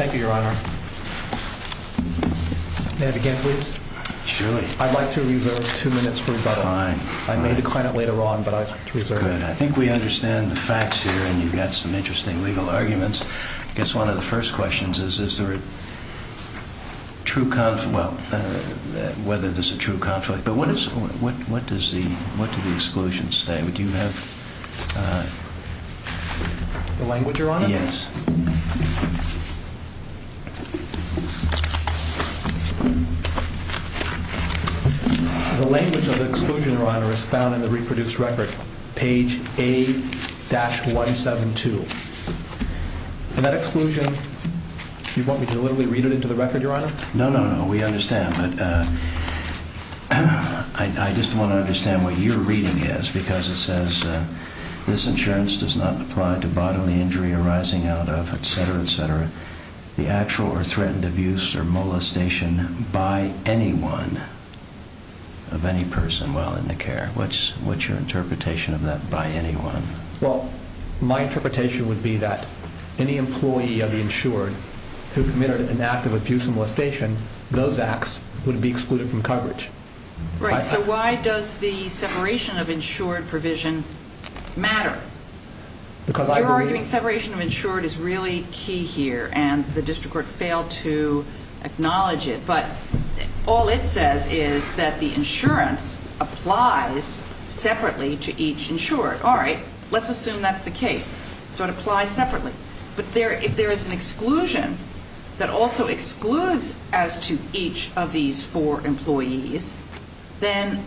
Thank you, Your Honor. May I begin, please? Surely. I'd like to reserve two minutes for rebuttal. Fine. I may decline it later on, but I reserve it. Good. I think we understand the facts here, and you've got some interesting legal arguments. I guess one of the first questions is, is there a true conflict? Well, whether there's a true conflict. But what is, what does the, what do the exclusions say? Would you have... The language, Your Honor? Yes. The language of the exclusion, Your Honor, is found in the reproduced record, page A-172. And that exclusion, you want me to literally read it into the record, Your Honor? No, no, no. We understand. But I just want to understand what your reading is, because it says, this insurance does not apply to bodily injury arising out of, etc., etc., the actual or threatened abuse or molestation by anyone of any person while in the care. What's your interpretation of that, by anyone? Well, my interpretation would be that any employee of the insured who committed an act of abuse or molestation, those acts would be excluded from coverage. Right. So why does the separation of insured provision matter? Because I believe... You're arguing separation of insured is really key here, and the district court failed to acknowledge it. But all it says is that the insurance applies separately to each insured. All right. Let's assume that's the case. So it applies separately. But if there is an exclusion that also excludes as to each of these four employees, then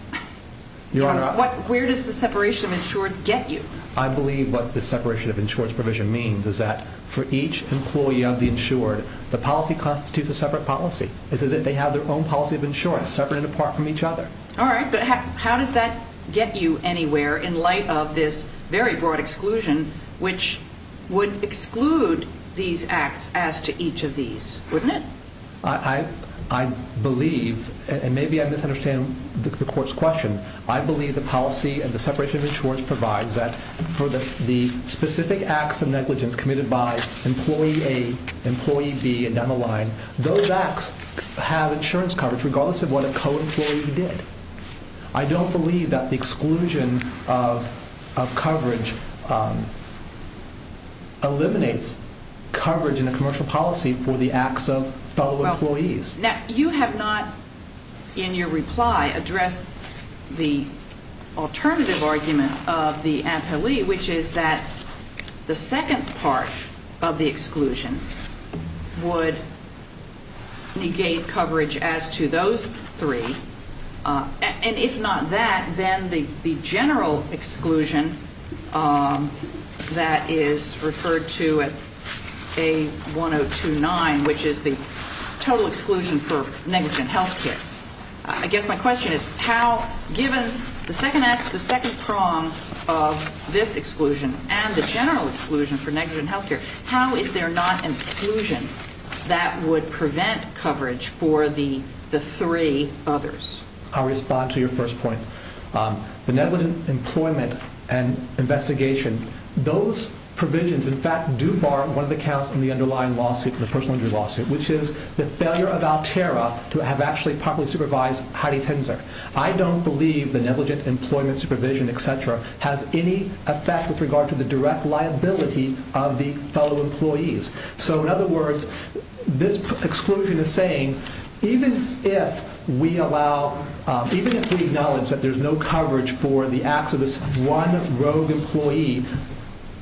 where does the separation of insured get you? I believe what the separation of insured provision means is that for each employee of the insured, the policy constitutes a separate policy. It's as if they have their own policy of insurance, separate and apart from each other. All right. But how does that get you anywhere in light of this very broad exclusion, which would exclude these acts as to each of these, wouldn't it? I believe, and maybe I misunderstand the court's question, I believe the policy of the separation of insured provides that for the specific acts of negligence committed by employee A, employee B, and down the line, those acts have insurance coverage regardless of what a co-employee did. I don't believe that the exclusion of coverage eliminates coverage in a commercial policy for the acts of fellow employees. Now, you have not, in your reply, addressed the alternative argument of the appellee, which is that the second part of the exclusion would negate coverage as to those three. And if not that, then the general exclusion that is referred to at A1029, which is the total exclusion for negligent health care. I guess my question is how, given the second prong of this exclusion and the general exclusion for negligent health care, how is there not an exclusion that would prevent coverage for the three others? I'll respond to your first point. The negligent employment and investigation, those provisions in fact do bar one of the counts in the underlying lawsuit, the personal injury lawsuit, which is the failure of Altera to have actually properly supervised Heidi Tenzer. I don't believe the negligent employment supervision, et cetera, has any effect with regard to the direct liability of the fellow employees. So in other words, this exclusion is saying, even if we acknowledge that there's no coverage for the acts of this one rogue employee,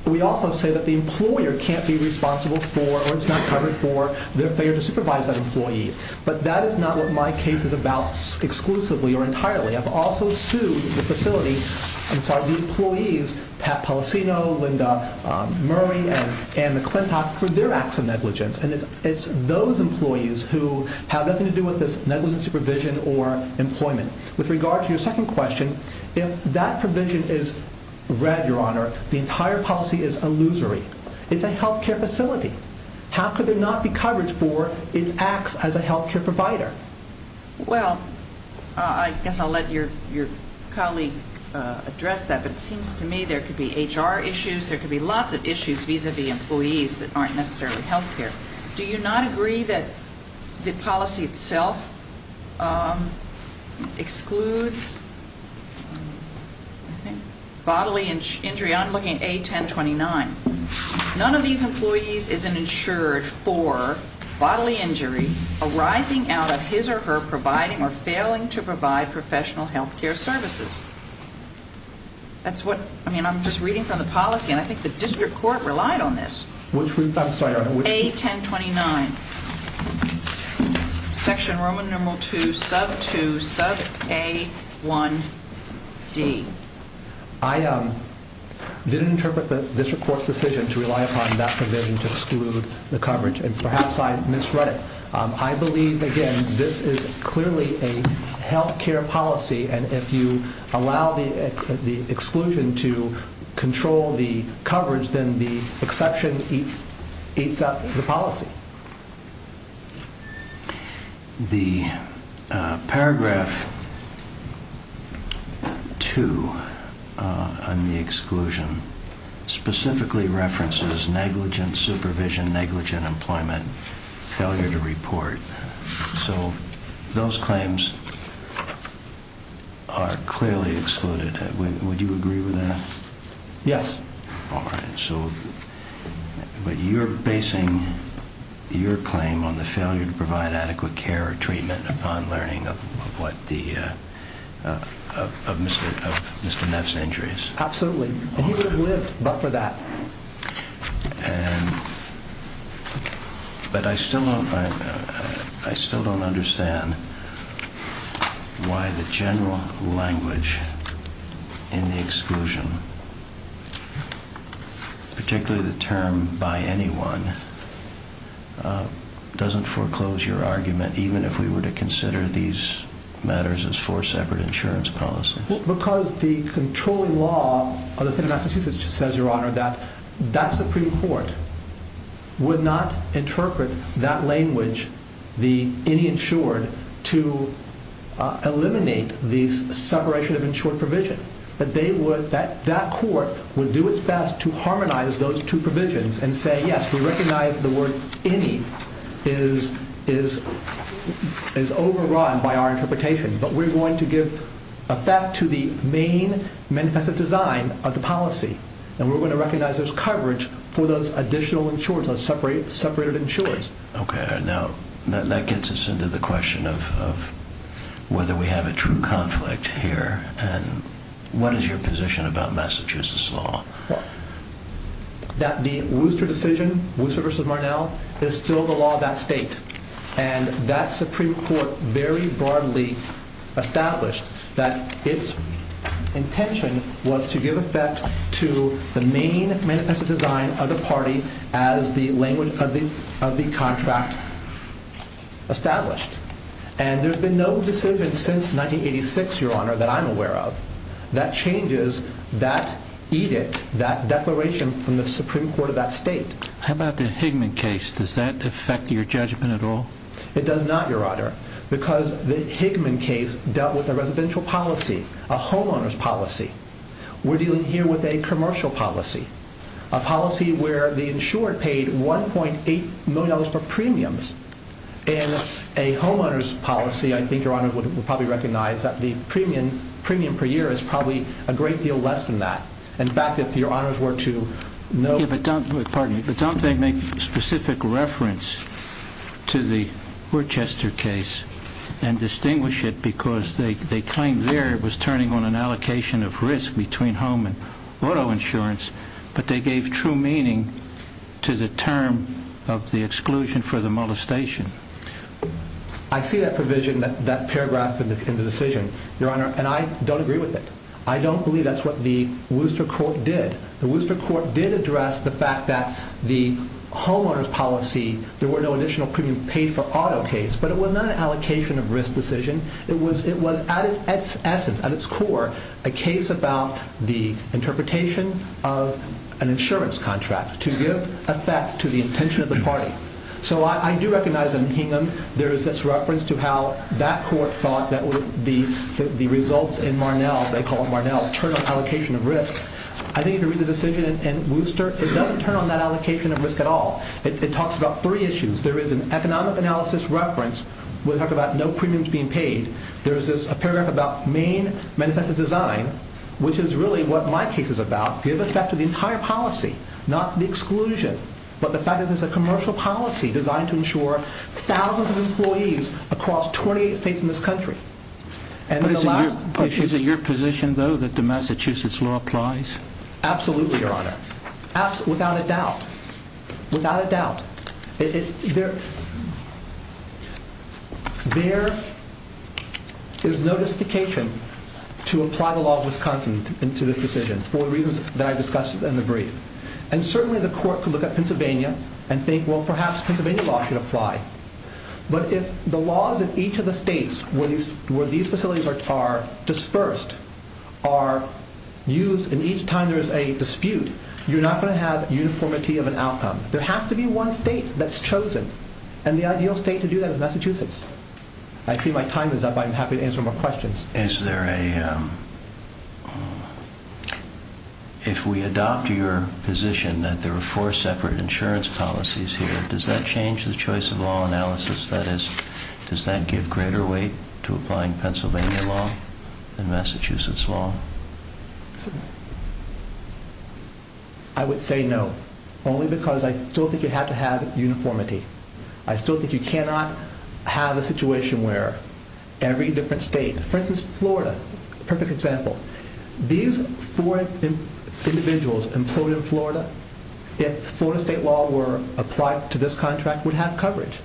we also say that the employer can't be responsible for, or it's not covered for, their failure to supervise that employee. But that is not what my case is about exclusively or entirely. I've also sued the facility, I'm sorry, the employees, Pat Policino, Linda Murray, and Anne McClintock, for their acts of negligence. And it's those employees who have nothing to do with this negligent supervision or employment. With regard to your second question, if that provision is read, Your Honor, the entire policy is illusory. It's a health care facility. How could there not be coverage for its acts as a health care provider? Well, I guess I'll let your colleague address that, but it seems to me there could be HR issues, there could be lots of issues vis-a-vis employees that aren't necessarily health care. Do you not agree that the policy itself excludes bodily injury? I'm looking at A1029. None of these employees is insured for bodily injury arising out of his or her providing or failing to provide professional health care services. That's what, I mean, I'm just reading from the policy, and I think the district court relied on this. I'm sorry, Your Honor. A1029, section Roman numeral 2, sub 2, sub A1D. I didn't interpret the district court's decision to rely upon that provision to exclude the coverage, and perhaps I misread it. I believe, again, this is clearly a health care policy, and if you allow the exclusion to control the coverage, then the exception eats up the policy. The paragraph 2 on the exclusion specifically references negligent supervision, negligent employment, failure to report. So those claims are clearly excluded. Would you agree with that? Yes. All right. So you're basing your claim on the failure to provide adequate care or treatment upon learning of Mr. Neff's injuries? Absolutely. And he would have lived but for that. But I still don't understand why the general language in the exclusion, particularly the term by anyone, doesn't foreclose your argument even if we were to consider these matters as four separate insurance policies. Because the controlling law of the state of Massachusetts says, Your Honor, that that Supreme Court would not interpret that language, the any insured, to eliminate the separation of insured provision. But that court would do its best to harmonize those two provisions and say, yes, we recognize the word any is overrun by our interpretation, but we're going to give effect to the main manifest design of the policy and we're going to recognize there's coverage for those additional insured, those separated insured. Okay. Now, that gets us into the question of whether we have a true conflict here. And what is your position about Massachusetts law? That the Wooster decision, Wooster v. Marnell, is still the law of that state. And that Supreme Court very broadly established that its intention was to give effect to the main manifest design of the party as the language of the contract established. And there's been no decision since 1986, Your Honor, that I'm aware of, that changes that edict, that declaration from the Supreme Court of that state. How about the Hickman case? Does that affect your judgment at all? It does not, Your Honor, because the Hickman case dealt with a residential policy, a homeowner's policy. We're dealing here with a commercial policy, a policy where the insured paid $1.8 million for premiums. In a homeowner's policy, I think Your Honor would probably recognize that the premium per year is probably a great deal less than that. In fact, if Your Honor were to know... Pardon me, but don't they make specific reference to the Worchester case and distinguish it because they claim there it was turning on an allocation of risk between home and auto insurance, but they gave true meaning to the term of the exclusion for the molestation. I see that provision, that paragraph in the decision, Your Honor, and I don't agree with it. I don't believe that's what the Worchester court did. The Worchester court did address the fact that the homeowner's policy, there were no additional premium paid for auto case, but it was not an allocation of risk decision. It was at its essence, at its core, a case about the interpretation of an insurance contract to give effect to the intention of the party. So I do recognize in Hingham there is this reference to how that court thought that the results in Marnell, they call it Marnell, turned on allocation of risk. I think if you read the decision in Worchester, it doesn't turn on that allocation of risk at all. It talks about three issues. There is an economic analysis reference where they talk about no premiums being paid. There is a paragraph about main manifesto design, which is really what my case is about, give effect to the entire policy, not the exclusion, but the fact that there's a commercial policy designed to insure thousands of employees across 28 states in this country. Is it your position, though, that the Massachusetts law applies? Absolutely, Your Honor. Without a doubt. Without a doubt. There is no justification to apply the law of Wisconsin to this decision for the reasons that I discussed in the brief. And certainly the court could look at Pennsylvania and think, well, perhaps Pennsylvania law should apply. But if the laws in each of the states where these facilities are dispersed are used, and each time there is a dispute, you're not going to have uniformity of an outcome. There has to be one state that's chosen, and the ideal state to do that is Massachusetts. I see my time is up. I'm happy to answer more questions. If we adopt your position that there are four separate insurance policies here, does that change the choice of law analysis? That is, does that give greater weight to applying Pennsylvania law than Massachusetts law? I would say no, only because I still think you have to have uniformity. I still think you cannot have a situation where every different state, for instance, Florida, perfect example. These four individuals employed in Florida, if Florida state law were applied to this contract, would have coverage.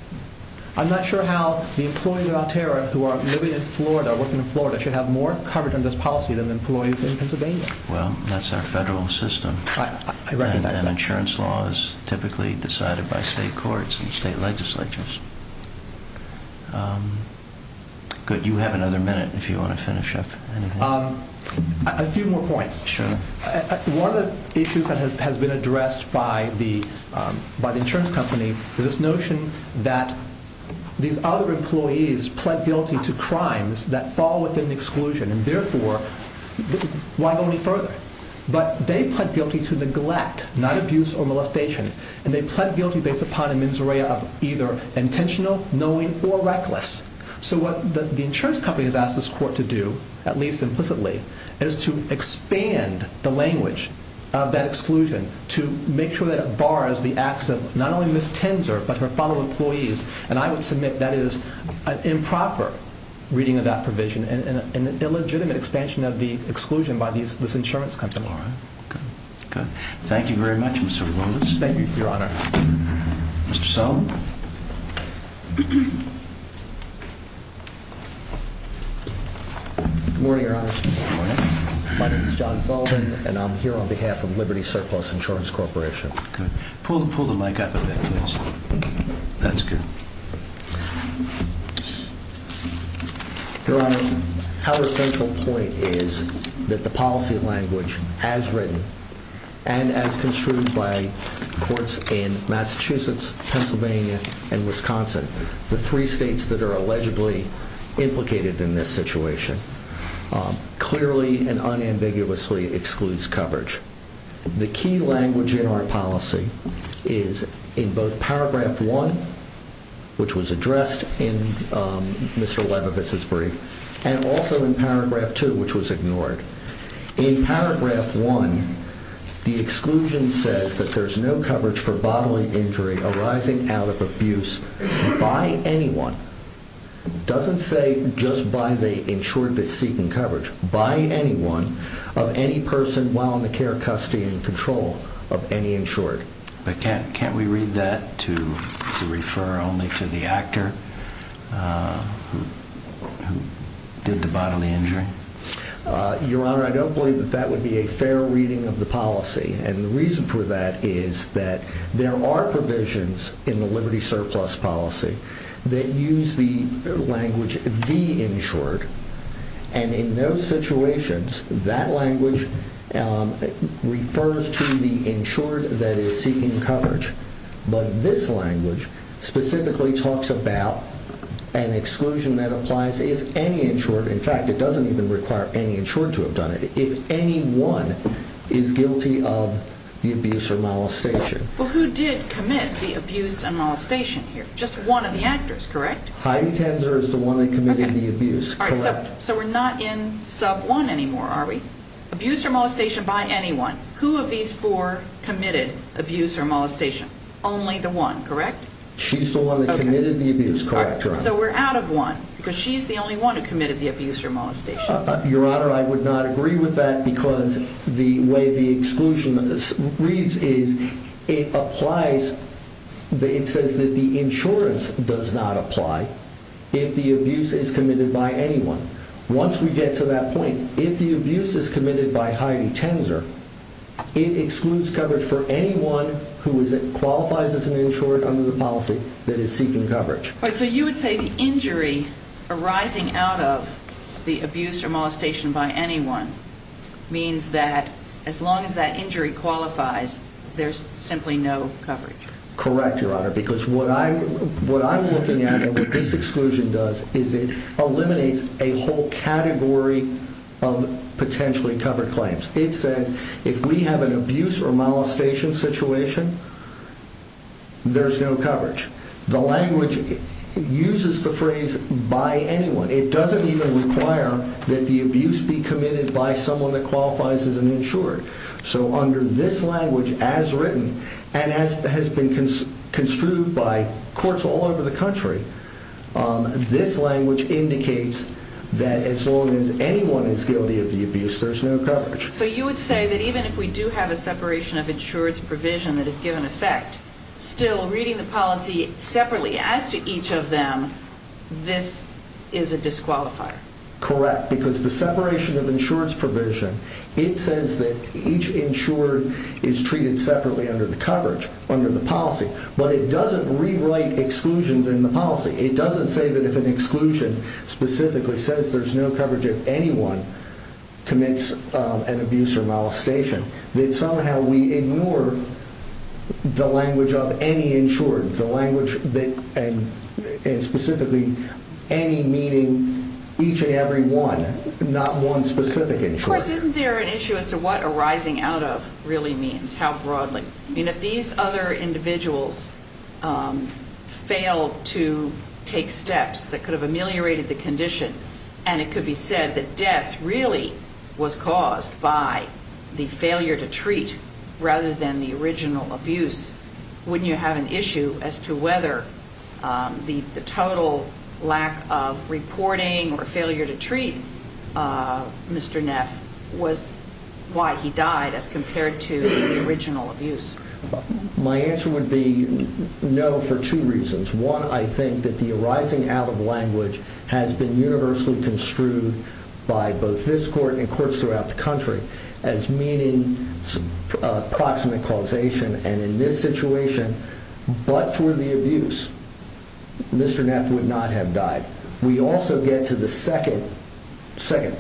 I'm not sure how the employees of Altera who are living in Florida, working in Florida, should have more coverage on this policy than the employees in Pennsylvania. Well, that's our federal system. I recognize that. Insurance law is typically decided by state courts and state legislatures. Good. You have another minute if you want to finish up. A few more points. Sure. One of the issues that has been addressed by the insurance company is this notion that these other employees pled guilty to crimes that fall within the exclusion, and therefore, why go any further? But they pled guilty to neglect, not abuse or molestation, and they pled guilty based upon a mens rea of either intentional, knowing, or reckless. So what the insurance company has asked this court to do, at least implicitly, is to expand the language of that exclusion to make sure that it bars the acts of not only Ms. Tenzer, but her fellow employees, and I would submit that is an improper reading of that provision and an illegitimate expansion of the exclusion by this insurance company. All right. Good. Good. Thank you very much, Mr. Williams. Thank you, Your Honor. Mr. Sullivan. Good morning, Your Honor. Good morning. My name is John Sullivan, and I'm here on behalf of Liberty Surplus Insurance Corporation. Good. Pull the mic up a bit, please. That's good. Your Honor, our central point is that the policy language as written and as construed by courts in Massachusetts, Pennsylvania, and Wisconsin, the three states that are allegedly implicated in this situation, clearly and unambiguously excludes coverage. The key language in our policy is in both Paragraph 1, which was addressed in Mr. Leibovitz's brief, and also in Paragraph 2, which was ignored. In Paragraph 1, the exclusion says that there's no coverage for bodily injury arising out of abuse by anyone. It doesn't say just by the insured that's seeking coverage. By anyone of any person while in the care, custody, and control of any insured. But can't we read that to refer only to the actor who did the bodily injury? Your Honor, I don't believe that that would be a fair reading of the policy, and the reason for that is that there are provisions in the Liberty Surplus policy that use the language, the insured, and in those situations, that language refers to the insured that is seeking coverage. But this language specifically talks about an exclusion that applies if any insured, in fact, it doesn't even require any insured to have done it, if anyone is guilty of the abuse or molestation. Well, who did commit the abuse and molestation here? Just one of the actors, correct? Heidi Tenzer is the one that committed the abuse, correct. So we're not in Sub 1 anymore, are we? Abuse or molestation by anyone. Who of these four committed abuse or molestation? Only the one, correct? She's the one that committed the abuse, correct, Your Honor. So we're out of one, because she's the only one who committed the abuse or molestation. Your Honor, I would not agree with that because the way the exclusion reads is it applies, it says that the insurance does not apply if the abuse is committed by anyone. Once we get to that point, if the abuse is committed by Heidi Tenzer, it excludes coverage for anyone who qualifies as an insured under the policy that is seeking coverage. So you would say the injury arising out of the abuse or molestation by anyone means that as long as that injury qualifies, there's simply no coverage. Correct, Your Honor, because what I'm looking at and what this exclusion does is it eliminates a whole category of potentially covered claims. It says if we have an abuse or molestation situation, there's no coverage. The language uses the phrase by anyone. It doesn't even require that the abuse be committed by someone that qualifies as an insured. So under this language as written and as has been construed by courts all over the country, this language indicates that as long as anyone is guilty of the abuse, there's no coverage. So you would say that even if we do have a separation of insurance provision that is given effect, still reading the policy separately as to each of them, this is a disqualifier. Correct, because the separation of insurance provision, it says that each insured is treated separately under the coverage, under the policy, but it doesn't rewrite exclusions in the policy. It doesn't say that if an exclusion specifically says there's no coverage if anyone commits an abuse or molestation, that somehow we ignore the language of any insured, the language and specifically any meaning each and every one, not one specific insured. Of course, isn't there an issue as to what arising out of really means, how broadly? I mean, if these other individuals fail to take steps that could have ameliorated the condition and it could be said that death really was caused by the failure to treat rather than the original abuse, wouldn't you have an issue as to whether the total lack of reporting or failure to treat Mr. Neff was why he died as compared to the original abuse? My answer would be no for two reasons. One, I think that the arising out of language has been universally construed by both this court and courts throughout the country as meaning proximate causation, and in this situation, but for the abuse, Mr. Neff would not have died. We also get to the second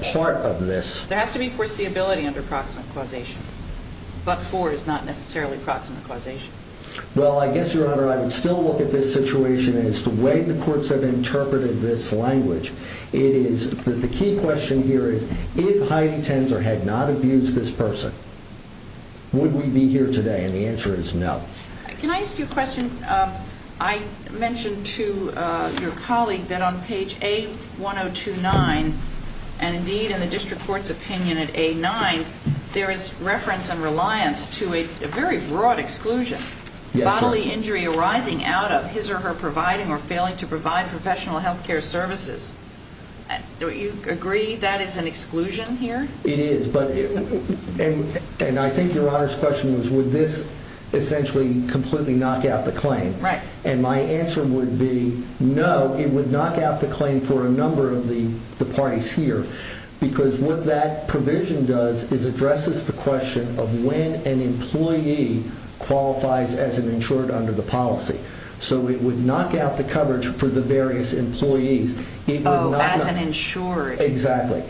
part of this. There has to be foreseeability under proximate causation, but for is not necessarily proximate causation. Well, I guess, Your Honor, I would still look at this situation as to when the courts have interpreted this language. The key question here is if Heidi Tenzer had not abused this person, would we be here today? And the answer is no. Can I ask you a question? I mentioned to your colleague that on page A1029, and indeed in the district court's opinion at A9, there is reference and reliance to a very broad exclusion, bodily injury arising out of his or her providing or failing to provide professional health care services. Do you agree that is an exclusion here? It is, and I think Your Honor's question was would this essentially completely knock out the claim? Right. And my answer would be no. It would knock out the claim for a number of the parties here because what that provision does is addresses the question of when an employee qualifies as an insured under the policy. So it would knock out the coverage for the various employees. Oh, as an insured? Exactly.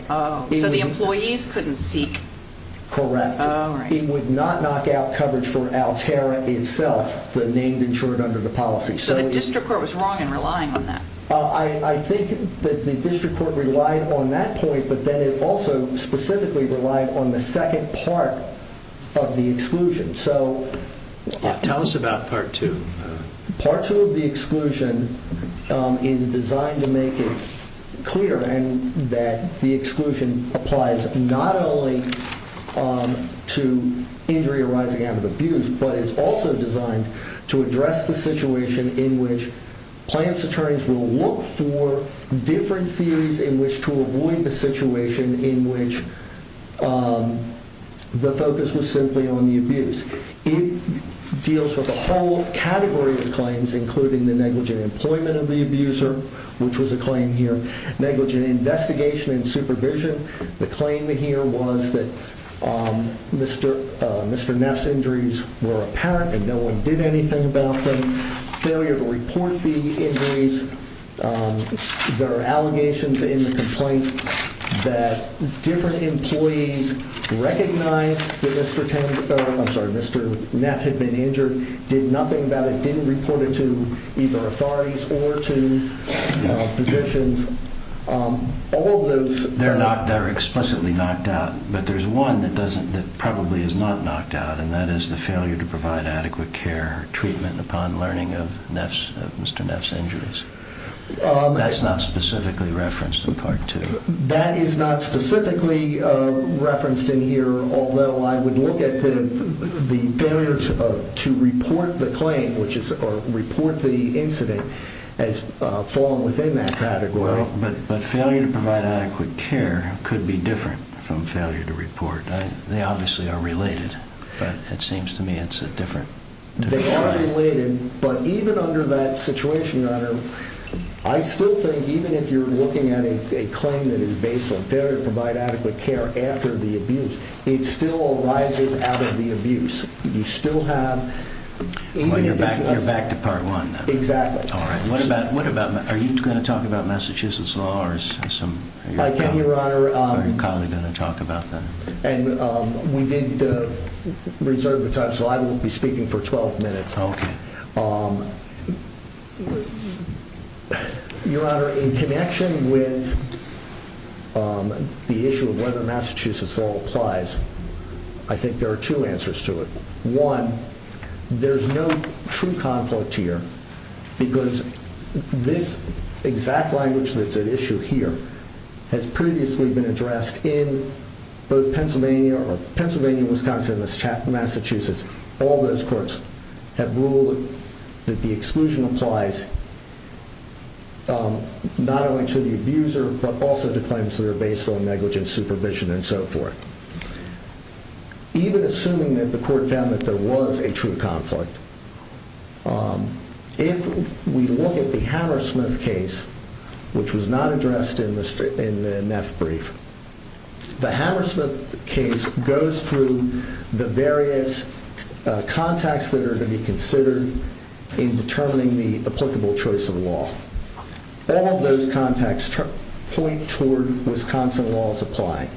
So the employees couldn't seek? Correct. Oh, right. It would not knock out coverage for Altera itself, the named insured under the policy. So the district court was wrong in relying on that? I think that the district court relied on that point, but then it also specifically relied on the second part of the exclusion. Tell us about Part 2. Part 2 of the exclusion is designed to make it clear that the exclusion applies not only to injury arising out of abuse, but is also designed to address the situation in which clients' attorneys will look for different theories in which to avoid the situation in which the focus was simply on the abuse. It deals with a whole category of claims, including the negligent employment of the abuser, which was a claim here, negligent investigation and supervision. The claim here was that Mr. Neff's injuries were apparent and no one did anything about them, failure to report the injuries. There are allegations in the complaint that different employees recognized that Mr. Neff had been injured, did nothing about it, didn't report it to either authorities or to physicians. They're explicitly knocked out, but there's one that probably is not knocked out, and that is the failure to provide adequate care or treatment upon learning of Mr. Neff's injuries. That's not specifically referenced in Part 2. That is not specifically referenced in here, although I would look at the failure to report the claim or report the incident as falling within that category. But failure to provide adequate care could be different from failure to report. They obviously are related, but it seems to me it's a different category. They are related, but even under that situation, I still think even if you're looking at a claim that is based on failure to provide adequate care after the abuse, it still arises out of the abuse. You still have... You're back to Part 1, then? Exactly. All right. Are you going to talk about Massachusetts law? I can, Your Honor. Are you kindly going to talk about that? We did reserve the time, so I will be speaking for 12 minutes. Okay. Your Honor, in connection with the issue of whether Massachusetts law applies, I think there are two answers to it. One, there's no true conflict here because this exact language that's at issue here has previously been addressed in both Pennsylvania or Pennsylvania, Wisconsin, and Massachusetts. All those courts have ruled that the exclusion applies not only to the abuser but also to claims that are based on negligent supervision and so forth. Even assuming that the court found that there was a true conflict, if we look at the Hammersmith case, which was not addressed in the Neff brief, the Hammersmith case goes through the various contacts that are to be considered in determining the applicable choice of law. All of those contacts point toward Wisconsin laws applying.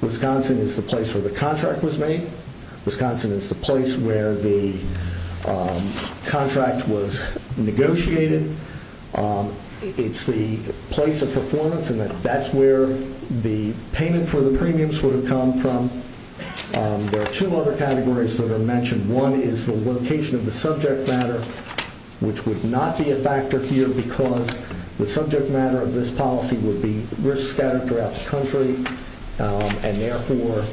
Wisconsin is the place where the contract was made. Wisconsin is the place where the contract was negotiated. It's the place of performance, and that's where the payment for the premiums would have come from. There are two other categories that are mentioned. One is the location of the subject matter, which would not be a factor here because the subject matter of this policy would be risk scattered throughout the country and therefore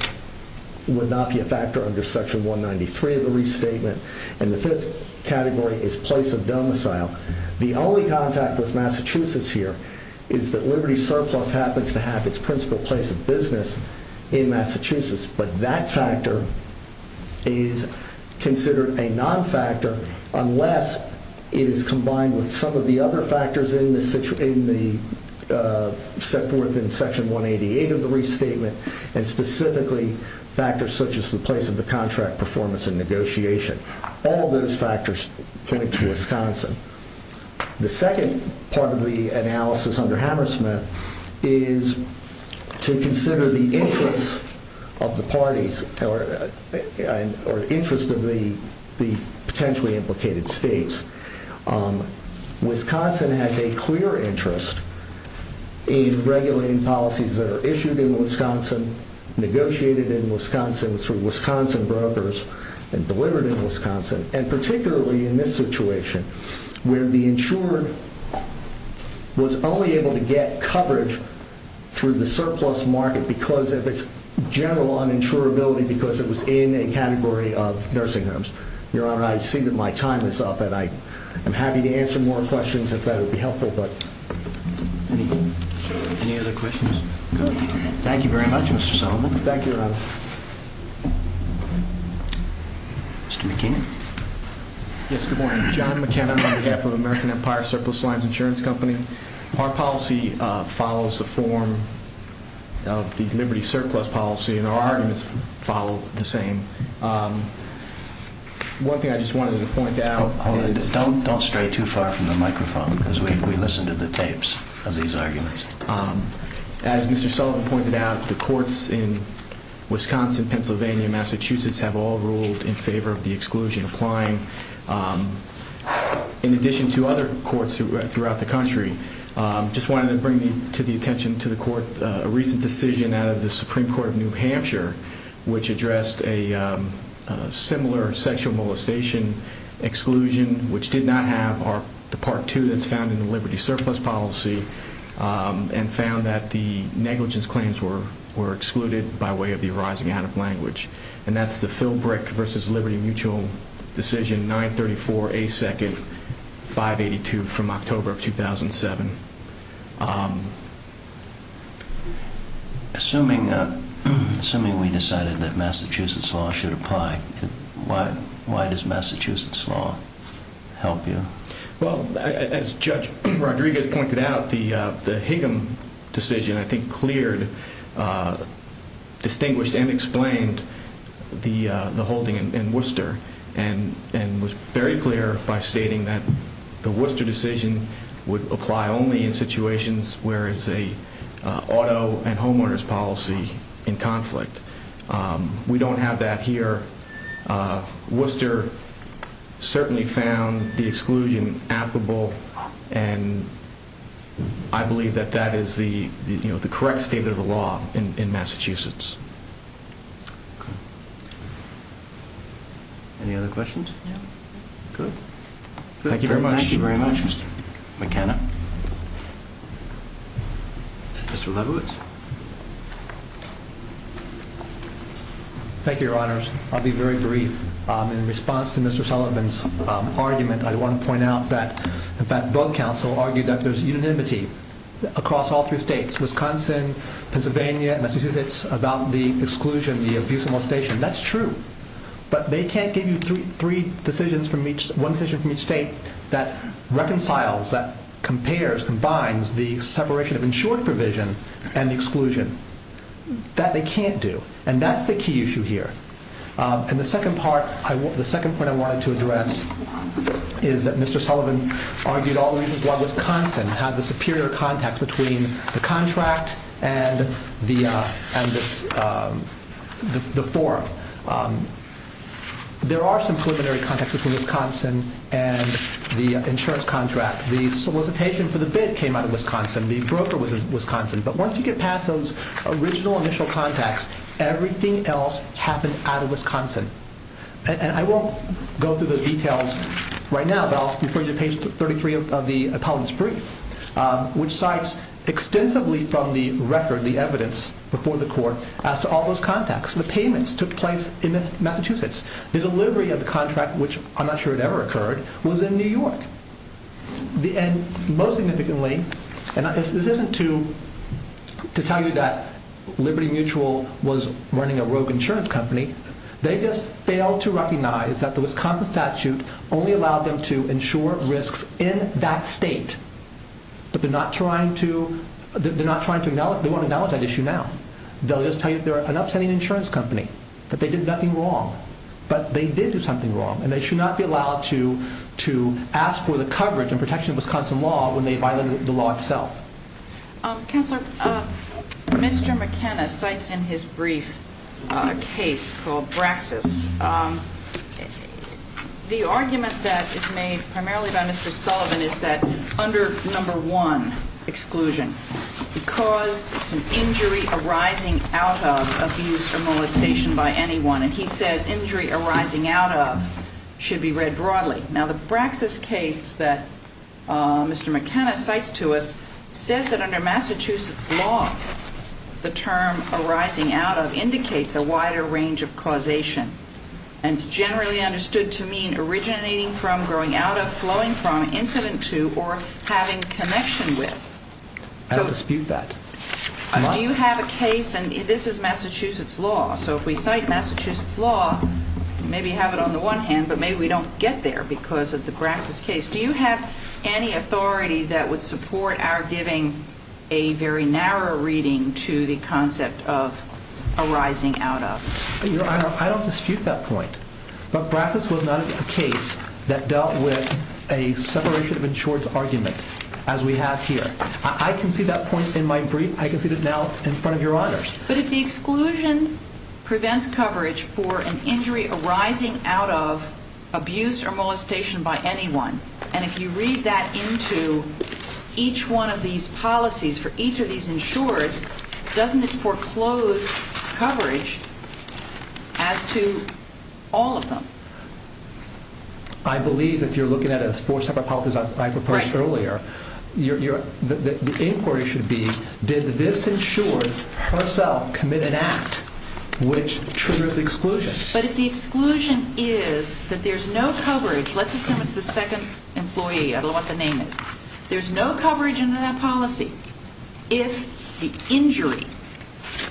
would not be a factor under Section 193 of the restatement. The fifth category is place of domicile. The only contact with Massachusetts here is that Liberty Surplus happens to have its principal place of business in Massachusetts, but that factor is considered a non-factor unless it is combined with some of the other factors set forth in Section 188 of the restatement, and specifically factors such as the place of the contract, performance, and negotiation. All of those factors point to Wisconsin. The second part of the analysis under Hammersmith is to consider the interest of the parties or interest of the potentially implicated states. Wisconsin has a clear interest in regulating policies that are issued in Wisconsin, negotiated in Wisconsin through Wisconsin brokers, and delivered in Wisconsin, and particularly in this situation where the insured was only able to get coverage through the surplus market because of its general uninsurability because it was in a category of nursing homes. Your Honor, I see that my time is up, and I am happy to answer more questions if that would be helpful. Any other questions? Good. Thank you very much, Mr. Solomon. Thank you, Your Honor. Mr. McKinnon. Yes, good morning. John McKinnon on behalf of American Empire Surplus Lines Insurance Company. Our policy follows the form of the Liberty Surplus policy, and our arguments follow the same. One thing I just wanted to point out is... Don't stray too far from the microphone, because we listen to the tapes of these arguments. As Mr. Solomon pointed out, the courts in Wisconsin, Pennsylvania, and Massachusetts have all ruled in favor of the exclusion, applying in addition to other courts throughout the country. I just wanted to bring to the attention to the court a recent decision out of the Supreme Court of New Hampshire, which addressed a similar sexual molestation exclusion, which did not have the Part 2 that's found in the Liberty Surplus policy, and found that the negligence claims were excluded by way of the arising out of language. And that's the Philbrick v. Liberty Mutual decision, 934A2, 582, from October of 2007. Assuming we decided that Massachusetts law should apply, why does Massachusetts law help you? Well, as Judge Rodriguez pointed out, the Higgum decision, I think, cleared, distinguished, and explained the holding in Worcester, and was very clear by stating that the Worcester decision would apply only in situations where it's an auto and homeowners policy in conflict. We don't have that here. Worcester certainly found the exclusion applicable, and I believe that that is the correct state of the law in Massachusetts. Any other questions? Good. Thank you very much, Mr. McKenna. Mr. Levowitz. Thank you, Your Honors. I'll be very brief. In response to Mr. Sullivan's argument, I want to point out that, in fact, both counsel argued that there's unanimity across all three states, Wisconsin, Pennsylvania, and Massachusetts, about the exclusion, the abuse of molestation. That's true. But they can't give you one decision from each state that reconciles, that compares, combines the separation of insured provision and the exclusion. That they can't do, and that's the key issue here. And the second point I wanted to address is that Mr. Sullivan argued all the reasons why there are some preliminary contacts between Wisconsin and the insurance contract. The solicitation for the bid came out of Wisconsin. The broker was in Wisconsin. But once you get past those original initial contacts, everything else happened out of Wisconsin. And I won't go through the details right now, but I'll refer you to page 33 of the appellate's brief, which cites extensively from the record, the evidence before the court, as to all those contacts. The payments took place in Massachusetts. The delivery of the contract, which I'm not sure it ever occurred, was in New York. And most significantly, and this isn't to tell you that Liberty Mutual was running a rogue insurance company. They just failed to recognize that the Wisconsin statute only allowed them to insure risks in that state. But they're not trying to acknowledge that issue now. They'll just tell you they're an upstanding insurance company, that they did nothing wrong. But they did do something wrong, and they should not be allowed to ask for the coverage and protection of Wisconsin law when they violated the law itself. Counselor, Mr. McKenna cites in his brief a case called Braxis. The argument that is made primarily by Mr. Sullivan is that under number one, exclusion, because it's an injury arising out of abuse or molestation by anyone. And he says injury arising out of should be read broadly. Now, the Braxis case that Mr. McKenna cites to us says that under Massachusetts law, the term arising out of indicates a wider range of causation. And it's generally understood to mean originating from, growing out of, flowing from, incident to, or having connection with. I don't dispute that. Do you have a case, and this is Massachusetts law, so if we cite Massachusetts law, maybe have it on the one hand, but maybe we don't get there because of the Braxis case. Do you have any authority that would support our giving a very narrow reading to the concept of arising out of? I don't dispute that point. But Braxis was not a case that dealt with a separation of insureds argument as we have here. I can see that point in my brief. I can see it now in front of your honors. But if the exclusion prevents coverage for an injury arising out of abuse or molestation by anyone, and if you read that into each one of these policies for each of these insureds, doesn't it foreclose coverage as to all of them? I believe if you're looking at it as four separate policies I proposed earlier, the inquiry should be, did this insured herself commit an act which triggers the exclusion? But if the exclusion is that there's no coverage, let's assume it's the second employee, I don't know what the name is, there's no coverage in that policy. If the injury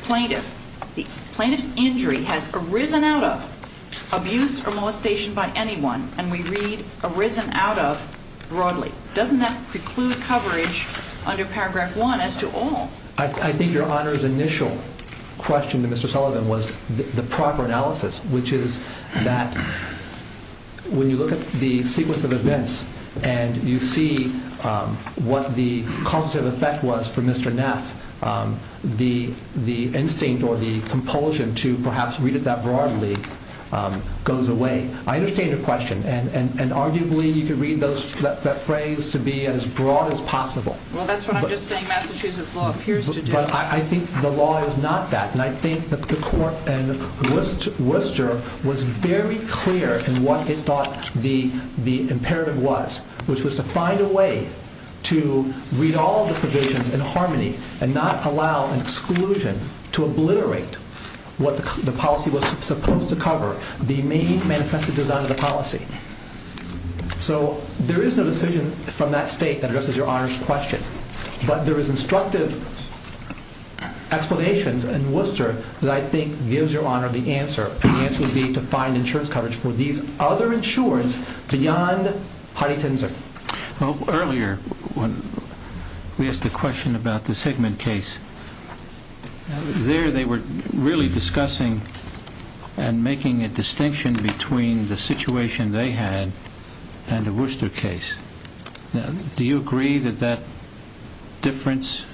plaintiff, the plaintiff's injury has arisen out of abuse or molestation by anyone, and we read arisen out of broadly, doesn't that preclude coverage under Paragraph 1 as to all? I think your honors' initial question to Mr. Sullivan was the proper analysis, which is that when you look at the sequence of events and you see what the causative effect was for Mr. Neff, the instinct or the compulsion to perhaps read it that broadly goes away. I understand your question, and arguably you could read that phrase to be as broad as possible. Well, that's what I'm just saying Massachusetts law appears to do. But I think the law is not that. And I think that the court in Worcester was very clear in what it thought the imperative was, which was to find a way to read all the provisions in harmony and not allow an exclusion to obliterate what the policy was supposed to cover, the main manifest design of the policy. So there is no decision from that state that addresses your honors' question. But there is instructive explanations in Worcester that I think gives your honor the answer. And the answer would be to find insurance coverage for these other insurers beyond Heidi Tinzer. Earlier, when we asked the question about the Sigmund case, there they were really discussing and making a distinction between the situation they had and the Worcester case. Do you agree that that difference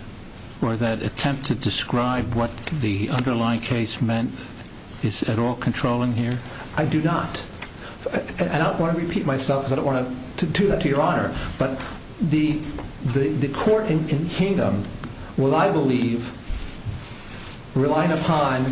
or that attempt to describe what the underlying case meant is at all controlling here? I do not. And I don't want to repeat myself because I don't want to do that to your honor. But the court in Kingdom will, I believe, rely upon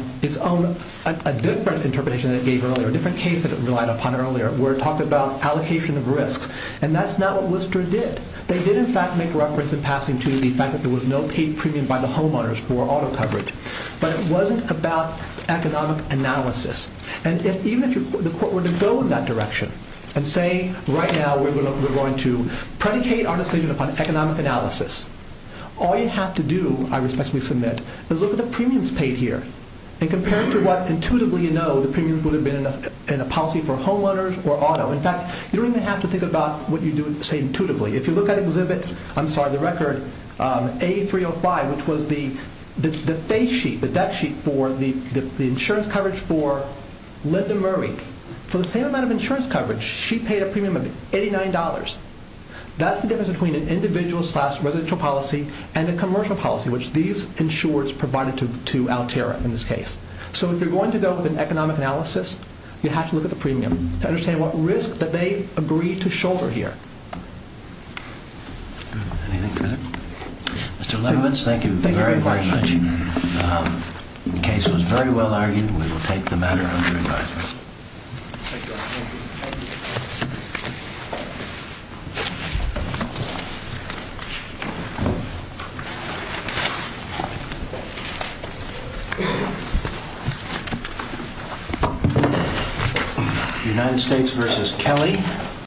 a different interpretation that it gave earlier, a different case that it relied upon earlier, where it talked about allocation of risks. And that's not what Worcester did. They did, in fact, make reference in passing to the fact that there was no paid premium by the homeowners for auto coverage. But it wasn't about economic analysis. And even if the court were to go in that direction and say, right now we're going to predicate our decision upon economic analysis, all you have to do, I respectfully submit, is look at the premiums paid here and compare it to what intuitively you know the premiums would have been in a policy for homeowners or auto. In fact, you don't even have to think about what you say intuitively. If you look at Exhibit A-305, which was the face sheet, the deck sheet for the insurance coverage for Linda Murray, for the same amount of insurance coverage she paid a premium of $89. That's the difference between an individual slash residential policy and a commercial policy, which these insurers provided to Altera in this case. So if you're going to go with an economic analysis, you have to look at the premium to understand what risk that they agreed to shoulder here. Anything further? Mr. Levitz, thank you very, very much. The case was very well argued. We will take the matter under advisement. United States v. Kelly.